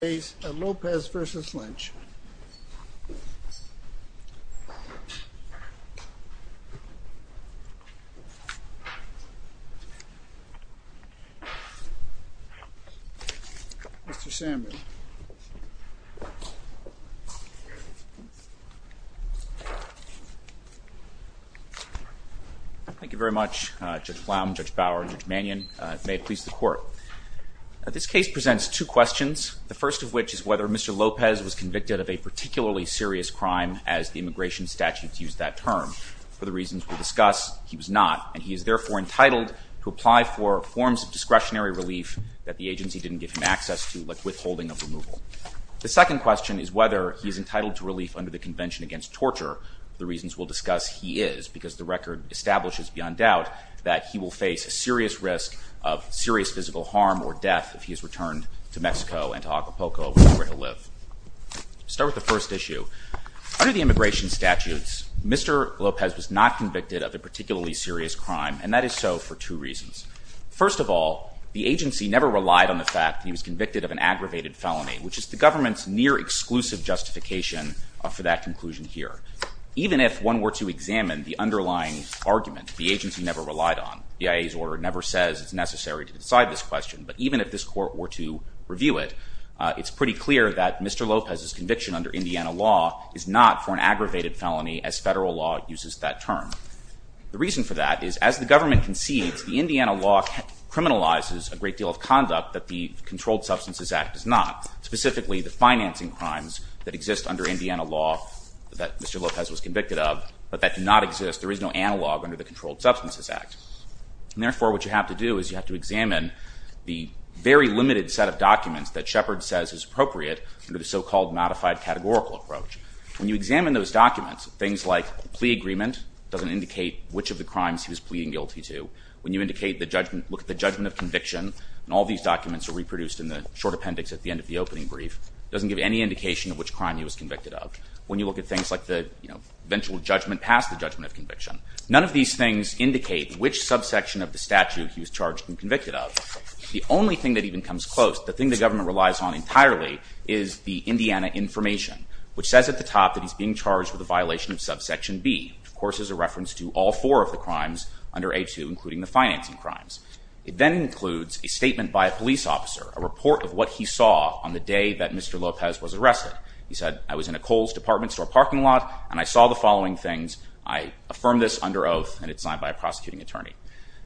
Thank you very much, Judge Flaum, Judge Bower, and Judge Mannion. May it please the Court. This case presents two questions. The first of which is whether Mr. Lopez was convicted of a particularly serious crime as the immigration statutes use that term. For the reasons we'll discuss, he was not, and he is therefore entitled to apply for forms of discretionary relief that the agency didn't give him access to, like withholding of removal. The second question is whether he is entitled to relief under the Convention Against Torture. The reasons we'll discuss, he is, because the record establishes beyond doubt that he will face a serious risk of serious physical harm or death if he is returned to Mexico and to Acapulco, which is where he'll live. Start with the first issue. Under the immigration statutes, Mr. Lopez was not convicted of a particularly serious crime, and that is so for two reasons. First of all, the agency never relied on the fact that he was convicted of an aggravated felony, which is the government's near-exclusive justification for that conclusion here. Even if one were to examine the underlying argument the agency never relied on, the IAEA's order never says it's necessary to decide this question, but even if this court were to review it, it's pretty clear that Mr. Lopez's conviction under Indiana law is not for an aggravated felony as federal law uses that term. The reason for that is as the government concedes, the Indiana law criminalizes a great deal of conduct that the Controlled Substances Act does not, specifically the financing crimes that exist under Indiana law that Mr. Lopez was convicted of, but that do not exist, there is no analog under the Controlled Substances Act. And therefore, what you have to do is you have to examine the very limited set of documents that Shepard says is appropriate under the so-called modified categorical approach. When you examine those documents, things like plea agreement doesn't indicate which of the crimes he was pleading guilty to. When you look at the judgment of conviction, and all these documents are reproduced in a short appendix at the end of the opening brief, it doesn't give any indication of which crime he was convicted of. When you look at things like the eventual judgment past the judgment of conviction, none of these things indicate which subsection of the statute he was charged and convicted of. The only thing that even comes close, the thing the government relies on entirely, is the Indiana information, which says at the top that he's being charged with a violation of subsection B, which of course is a reference to all four of the crimes under A2, including the financing crimes. It then includes a statement by a police officer, a report of what he saw on the day that Mr. Lopez was arrested. He said, I was in a Kohl's department store parking lot, and I saw the following things. I affirm this under oath, and it's signed by a prosecuting attorney.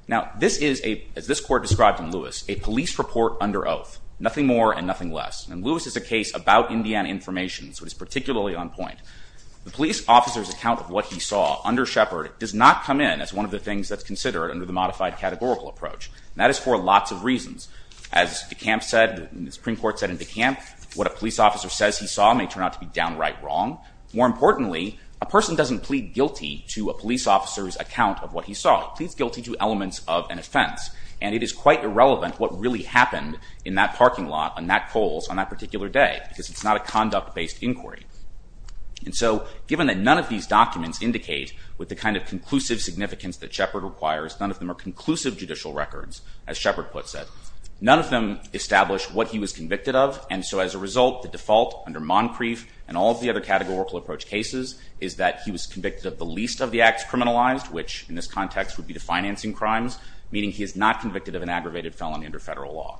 Now this is, as this court described in Lewis, a police report under oath, nothing more and nothing less. And Lewis is a case about Indiana information, so it is particularly on point. The police officer's account of what he saw under Shepard does not come in as one of the categorical approach. And that is for lots of reasons. As DeKalb said, the Supreme Court said in DeKalb, what a police officer says he saw may turn out to be downright wrong. More importantly, a person doesn't plead guilty to a police officer's account of what he saw. He pleads guilty to elements of an offense. And it is quite irrelevant what really happened in that parking lot on that Kohl's on that particular day, because it's not a conduct-based inquiry. And so given that none of these documents indicate with the kind of conclusive significance that Shepard requires, none of them are conclusive judicial records, as Shepard puts it, none of them establish what he was convicted of. And so as a result, the default under Moncrief and all of the other categorical approach cases is that he was convicted of the least of the acts criminalized, which in this context would be the financing crimes, meaning he is not convicted of an aggravated felony under federal law.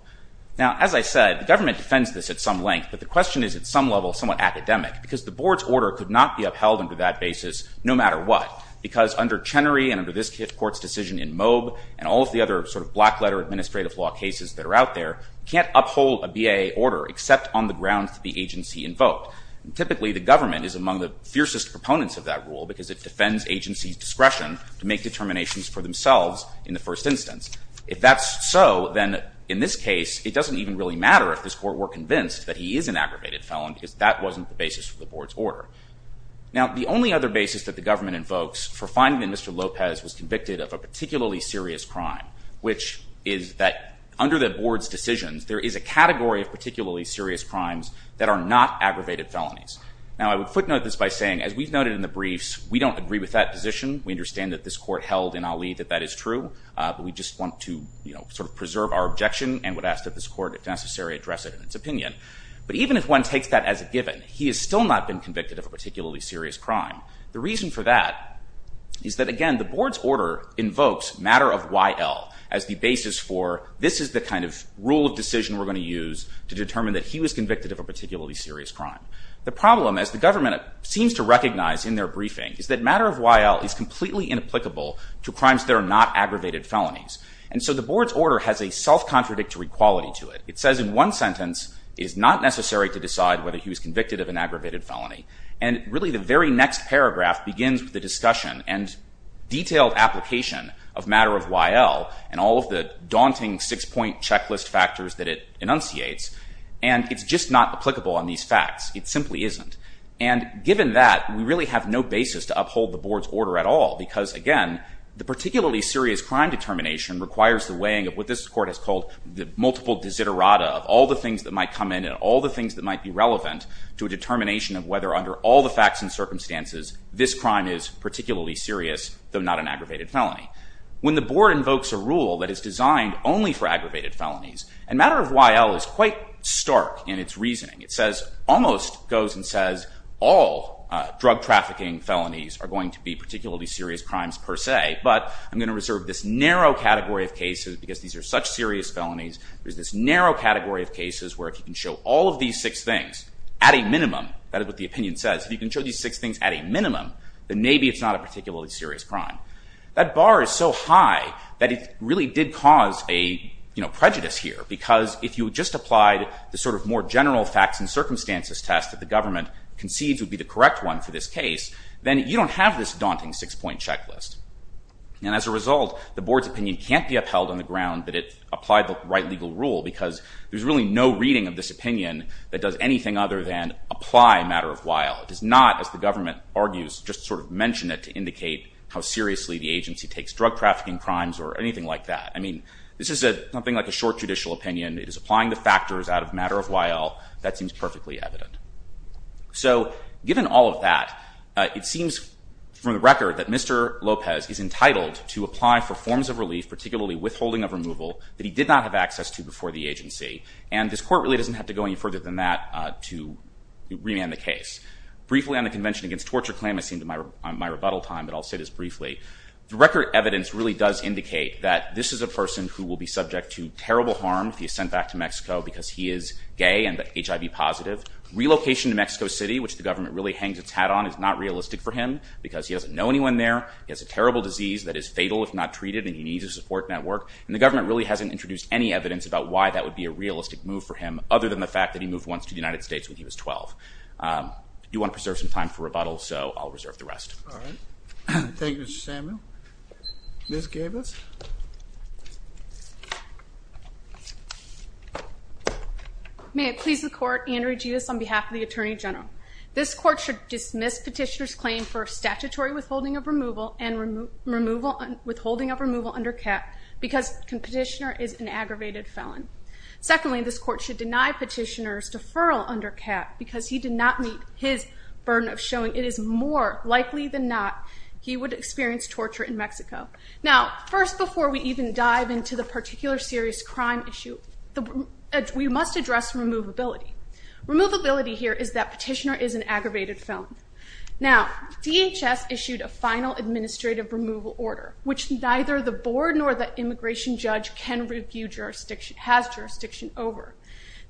Now, as I said, the government defends this at some length, but the question is at some level somewhat academic, because the board's order could not be upheld under that basis no matter what. Because under Chenery and under this court's decision in Moeb and all of the other sort of black letter administrative law cases that are out there, you can't uphold a BAA order except on the grounds that the agency invoked. Typically the government is among the fiercest proponents of that rule, because it defends agencies' discretion to make determinations for themselves in the first instance. If that's so, then in this case, it doesn't even really matter if this court were convinced that he is an aggravated felon, because that wasn't the basis for the board's order. Now, the only other basis that the government invokes for finding that Mr. Lopez was convicted of a particularly serious crime, which is that under the board's decisions, there is a category of particularly serious crimes that are not aggravated felonies. Now, I would footnote this by saying, as we've noted in the briefs, we don't agree with that position. We understand that this court held in Ali that that is true, but we just want to sort of preserve our objection and would ask that this court, if necessary, address it in its opinion. But even if one takes that as a given, he has still not been convicted of a particularly serious crime. The reason for that is that, again, the board's order invokes matter of Y.L. as the basis for this is the kind of rule of decision we're going to use to determine that he was convicted of a particularly serious crime. The problem, as the government seems to recognize in their briefing, is that matter of Y.L. is completely inapplicable to crimes that are not aggravated felonies. And so the board's order has a self-contradictory quality to it. It says in one sentence, it is not necessary to decide whether he was convicted of an aggravated felony. And really, the very next paragraph begins with a discussion and detailed application of matter of Y.L. and all of the daunting six-point checklist factors that it enunciates. And it's just not applicable on these facts. It simply isn't. And given that, we really have no basis to uphold the board's order at all because, again, the particularly serious crime determination requires the weighing of what this court has called the multiple desiderata of all the things that might come in and all the things that might be relevant to a determination of whether, under all the facts and circumstances, this crime is particularly serious, though not an aggravated felony. When the board invokes a rule that is designed only for aggravated felonies, and matter of Y.L. is quite stark in its reasoning. It says, almost goes and says, all drug trafficking felonies are going to be particularly serious crimes per se. But I'm going to reserve this narrow category of cases because these are such serious felonies. There's this narrow category of cases where, if you can show all of these six things at a minimum, that is what the opinion says, if you can show these six things at a minimum, then maybe it's not a particularly serious crime. That bar is so high that it really did cause a prejudice here. Because if you just applied the sort of more general facts and circumstances test that the government concedes would be the correct one for this case, then you don't have this And as a result, the board's opinion can't be upheld on the ground that it applied the right legal rule because there's really no reading of this opinion that does anything other than apply matter of Y.L. It does not, as the government argues, just sort of mention it to indicate how seriously the agency takes drug trafficking crimes or anything like that. I mean, this is something like a short judicial opinion. It is applying the factors out of matter of Y.L. That seems perfectly evident. So given all of that, it seems from the record that Mr. Lopez is entitled to apply for forms of relief, particularly withholding of removal, that he did not have access to before the agency. And this court really doesn't have to go any further than that to remand the case. Briefly on the Convention Against Torture claim, I seem to be on my rebuttal time, but I'll say this briefly. The record evidence really does indicate that this is a person who will be subject to terrible harm if he is sent back to Mexico because he is gay and HIV positive. Relocation to Mexico City, which the government really hangs its hat on, is not realistic for him because he doesn't know anyone there. He has a terrible disease that is fatal if not treated, and he needs a support network. And the government really hasn't introduced any evidence about why that would be a realistic move for him, other than the fact that he moved once to the United States when he was 12. I do want to preserve some time for rebuttal, so I'll reserve the rest. All right. Thank you, Mr. Samuel. Ms. Gavis. May it please the Court, Andrea Givis on behalf of the Attorney General. This Court should dismiss Petitioner's claim for statutory withholding of removal under CAP because Petitioner is an aggravated felon. Secondly, this Court should deny Petitioner's deferral under CAP because he did not meet his burden of showing it is more likely than not he would experience torture in Mexico. Now, first, before we even dive into the particular serious crime issue, we must address removability. Removability here is that Petitioner is an aggravated felon. Now, DHS issued a final administrative removal order, which neither the board nor the immigration judge can review jurisdiction, has jurisdiction over.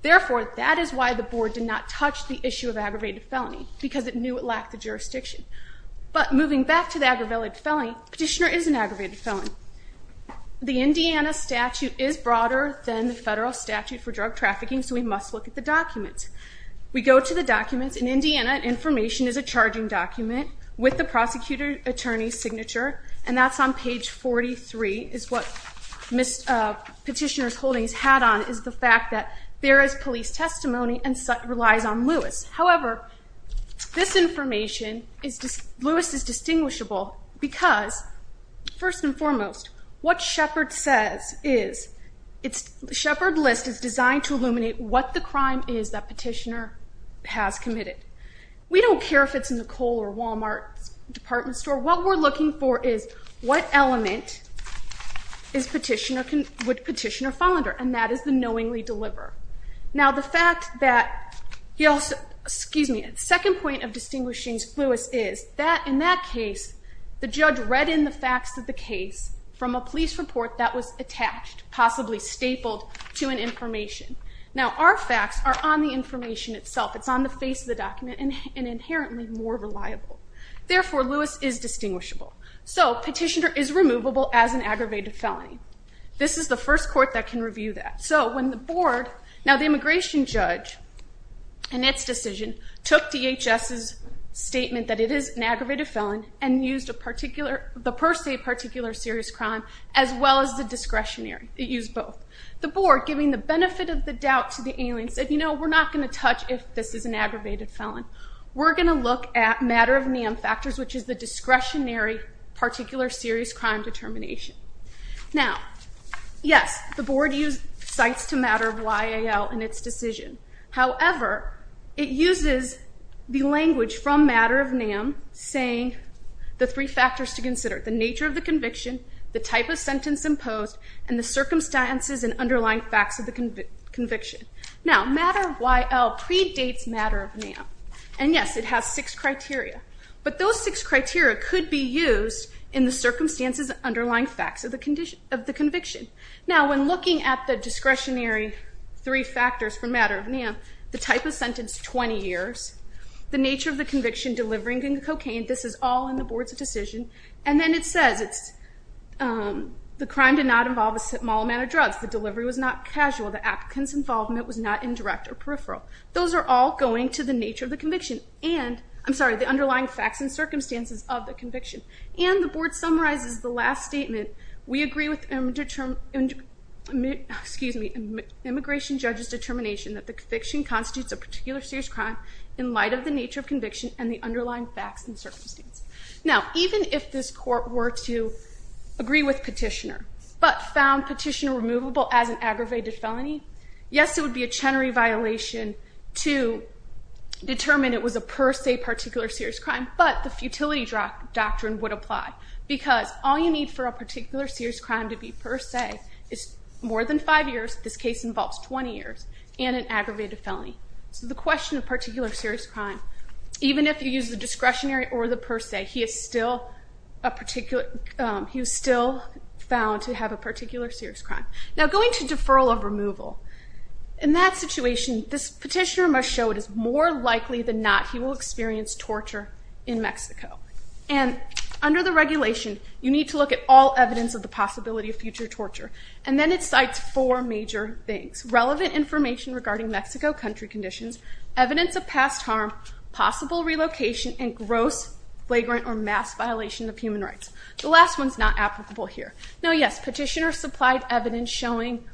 Therefore, that is why the board did not touch the issue of aggravated felony, because it knew it lacked the jurisdiction. But moving back to the aggravated felony, Petitioner is an aggravated felon. The Indiana statute is broader than the federal statute for drug trafficking, so we must look at the documents. We go to the documents. In Indiana, information is a charging document with the prosecutor attorney's signature, and that's on page 43, is what Petitioner's holdings had on, is the fact that there is police testimony and relies on Lewis. However, this information, Lewis is distinguishable because, first and foremost, what Shepard says is, Shepard List is designed to illuminate what the crime is that Petitioner has committed. We don't care if it's in the Kohl or Walmart department store. What we're looking for is what element would Petitioner fall under, and that is the knowingly deliver. Now, the fact that he also, excuse me, the second point of distinguishing Lewis is that in that case, the judge read in the facts of the case from a police report that was attached, possibly stapled, to an information. Now, our facts are on the information itself. It's on the face of the document and inherently more reliable. Therefore, Lewis is distinguishable. So Petitioner is removable as an aggravated felony. This is the first court that can review that. So when the board, now the immigration judge, in its decision, took DHS's statement that it is an aggravated felon and used the per se particular serious crime as well as the discretionary. It used both. The board, giving the benefit of the doubt to the alien, said, you know, we're not going to touch if this is an aggravated felon. We're going to look at matter of NAM factors, which is the discretionary particular serious crime determination. Now, yes, the board used cites to matter of YAL in its decision. However, it uses the language from matter of NAM saying the three factors to consider, the nature of the conviction, the type of sentence imposed, and the circumstances and underlying facts of the conviction. Now, matter of YAL predates matter of NAM. And yes, it has six criteria. But those six criteria could be used in the circumstances and underlying facts of the conviction. Now, when looking at the discretionary three factors for matter of NAM, the type of sentence, 20 years, the nature of the conviction, delivering the cocaine, this is all in the board's decision. And then it says the crime did not involve a small amount of drugs. The delivery was not casual. The applicant's involvement was not indirect or peripheral. Those are all going to the nature of the conviction. And I'm sorry, the underlying facts and circumstances of the conviction. And the board summarizes the last statement, we agree with immigration judge's determination that the conviction constitutes a particular serious crime in light of the nature of conviction and the underlying facts and circumstances. Now, even if this court were to agree with petitioner, but found petitioner removable as an aggravated felony, yes, it would be a Chenery violation to determine it was a per se particular serious crime. But the futility doctrine would apply because all you need for a particular serious crime to be per se is more than five years, this case involves 20 years, and an aggravated felony. So the question of particular serious crime, even if you use the discretionary or the per se, he is still a particular, he was still found to have a particular serious crime. Now, going to deferral of removal, in that situation, this petitioner must show it is more likely than not he will experience torture in Mexico. And under the regulation, you need to look at all evidence of the possibility of future torture. And then it cites four major things, relevant information regarding Mexico country conditions, evidence of past harm, possible relocation, and gross, flagrant, or mass violation of human rights. The last one is not applicable here. Now, yes, petitioner supplied evidence showing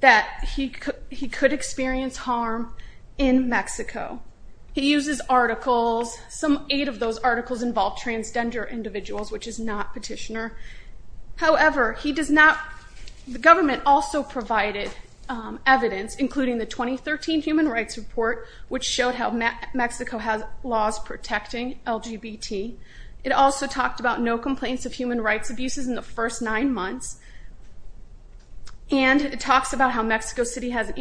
that he could experience harm in Mexico. He uses articles, some eight of those articles involve transgender individuals, which is not petitioner. However, he does not, the government also provided evidence, including the 2013 Human Rights Report, which showed how Mexico has laws protecting LGBT. It also talked about no complaints of human rights abuses in the first nine months. And it talks about how Mexico City has an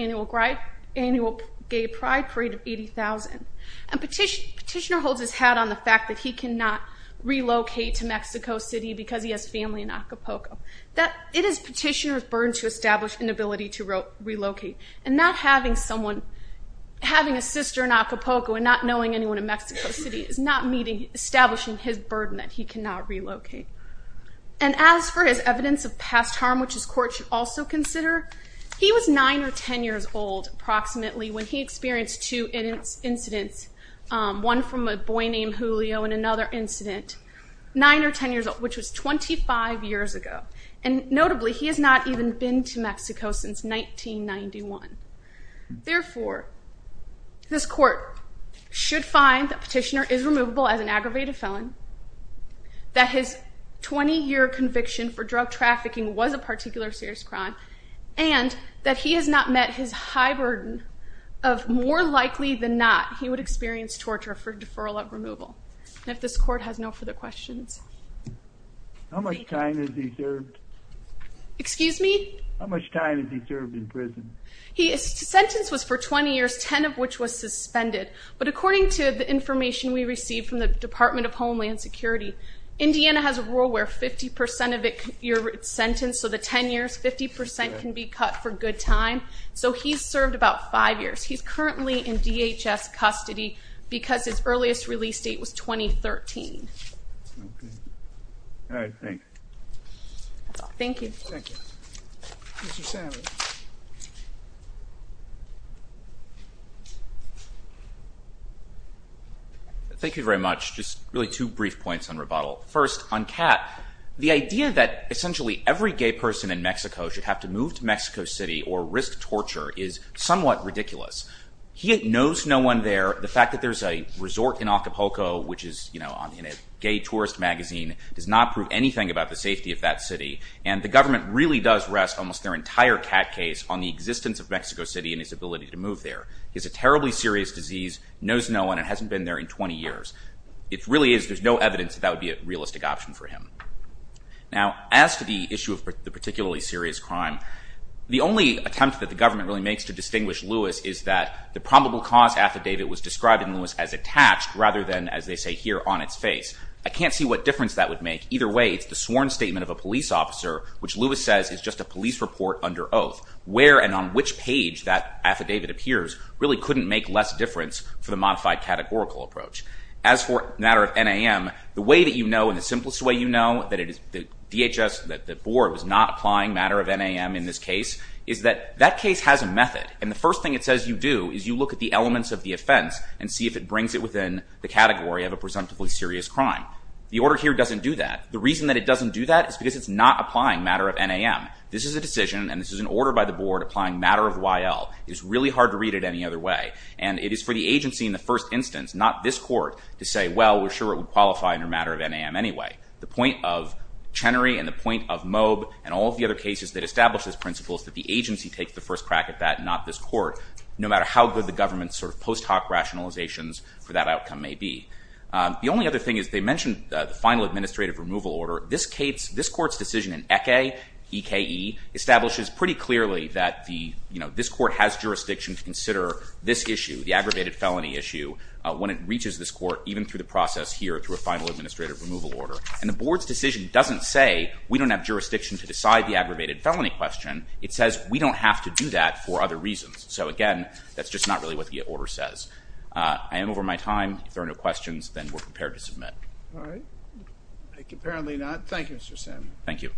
annual gay pride parade of 80,000. And petitioner holds his hat on the fact that he cannot relocate to Mexico City because he has family in Acapulco. It is petitioner's burden to establish an ability to relocate. And not having someone, having a sister in Acapulco and not knowing anyone in Mexico City is not establishing his burden that he cannot relocate. And as for his evidence of past harm, which his court should also consider, he was nine or 10 years old, approximately, when he experienced two incidents, one from a boy named Julio and another incident, nine or 10 years old, which was 25 years ago. And notably, he has not even been to Mexico since 1991. Therefore, this court should find that petitioner is removable as an aggravated felon, that his 20-year conviction for drug trafficking was a particular serious crime, and that he has not met his high burden of more likely than not he would experience torture for deferral of removal. And if this court has no further questions. How much time has he served? Excuse me? How much time has he served in prison? His sentence was for 20 years, 10 of which was suspended. But according to the information we received from the Department of Homeland Security, Indiana has a rule where 50% of your sentence, so the 10 years, 50% can be cut for good time. So he's served about five years. He's currently in DHS custody because his earliest release date was 2013. Okay. All right. Thanks. Thank you. Thank you. Mr. Sandler. Thank you very much. Just really two brief points on rebuttal. First, on Kat, the idea that essentially every gay person in Mexico should have to move to Mexico City or risk torture is somewhat ridiculous. He knows no one there. The fact that there's a resort in Acapulco, which is in a gay tourist magazine, does not prove anything about the safety of that city. And the government really does rest almost their entire Kat case on the existence of Mexico City and his ability to move there. He has a terribly serious disease, knows no one, and hasn't been there in 20 years. It really is, there's no evidence that that would be a realistic option for him. Now as to the issue of the particularly serious crime, the only attempt that the government really makes to distinguish Lewis is that the probable cause affidavit was described in Lewis as attached rather than, as they say here, on its face. I can't see what difference that would make. Either way, it's the sworn statement of a police officer, which Lewis says is just a police report under oath. Where and on which page that affidavit appears really couldn't make less difference for the modified categorical approach. As for the matter of NAM, the way that you know, and the simplest way you know, that it is the DHS, that the board was not applying matter of NAM in this case, is that that case has a method. And the first thing it says you do is you look at the elements of the offense and see if it brings it within the category of a presumptively serious crime. The order here doesn't do that. The reason that it doesn't do that is because it's not applying matter of NAM. This is a decision and this is an order by the board applying matter of YL. It's really hard to read it any other way. And it is for the agency in the first instance, not this court, to say, well, we're sure it would qualify under matter of NAM anyway. The point of Chenery and the point of Moeb and all of the other cases that establish this principle is that the agency takes the first crack at that, not this court, no matter how good the government's sort of post hoc rationalizations for that outcome may be. The only other thing is they mentioned the final administrative removal order. This case, this court's decision in ECE, E-K-E, establishes pretty clearly that the, you know, this court has jurisdiction to consider this issue, the aggravated felony issue, when it reaches this court, even through the process here through a final administrative removal order. And the board's decision doesn't say we don't have jurisdiction to decide the aggravated felony question. It says we don't have to do that for other reasons. So again, that's just not really what the order says. I am over my time. If there are no questions, then we're prepared to submit. All right. Thank you. Apparently not. Thank you, Mr. Sam. Thank you.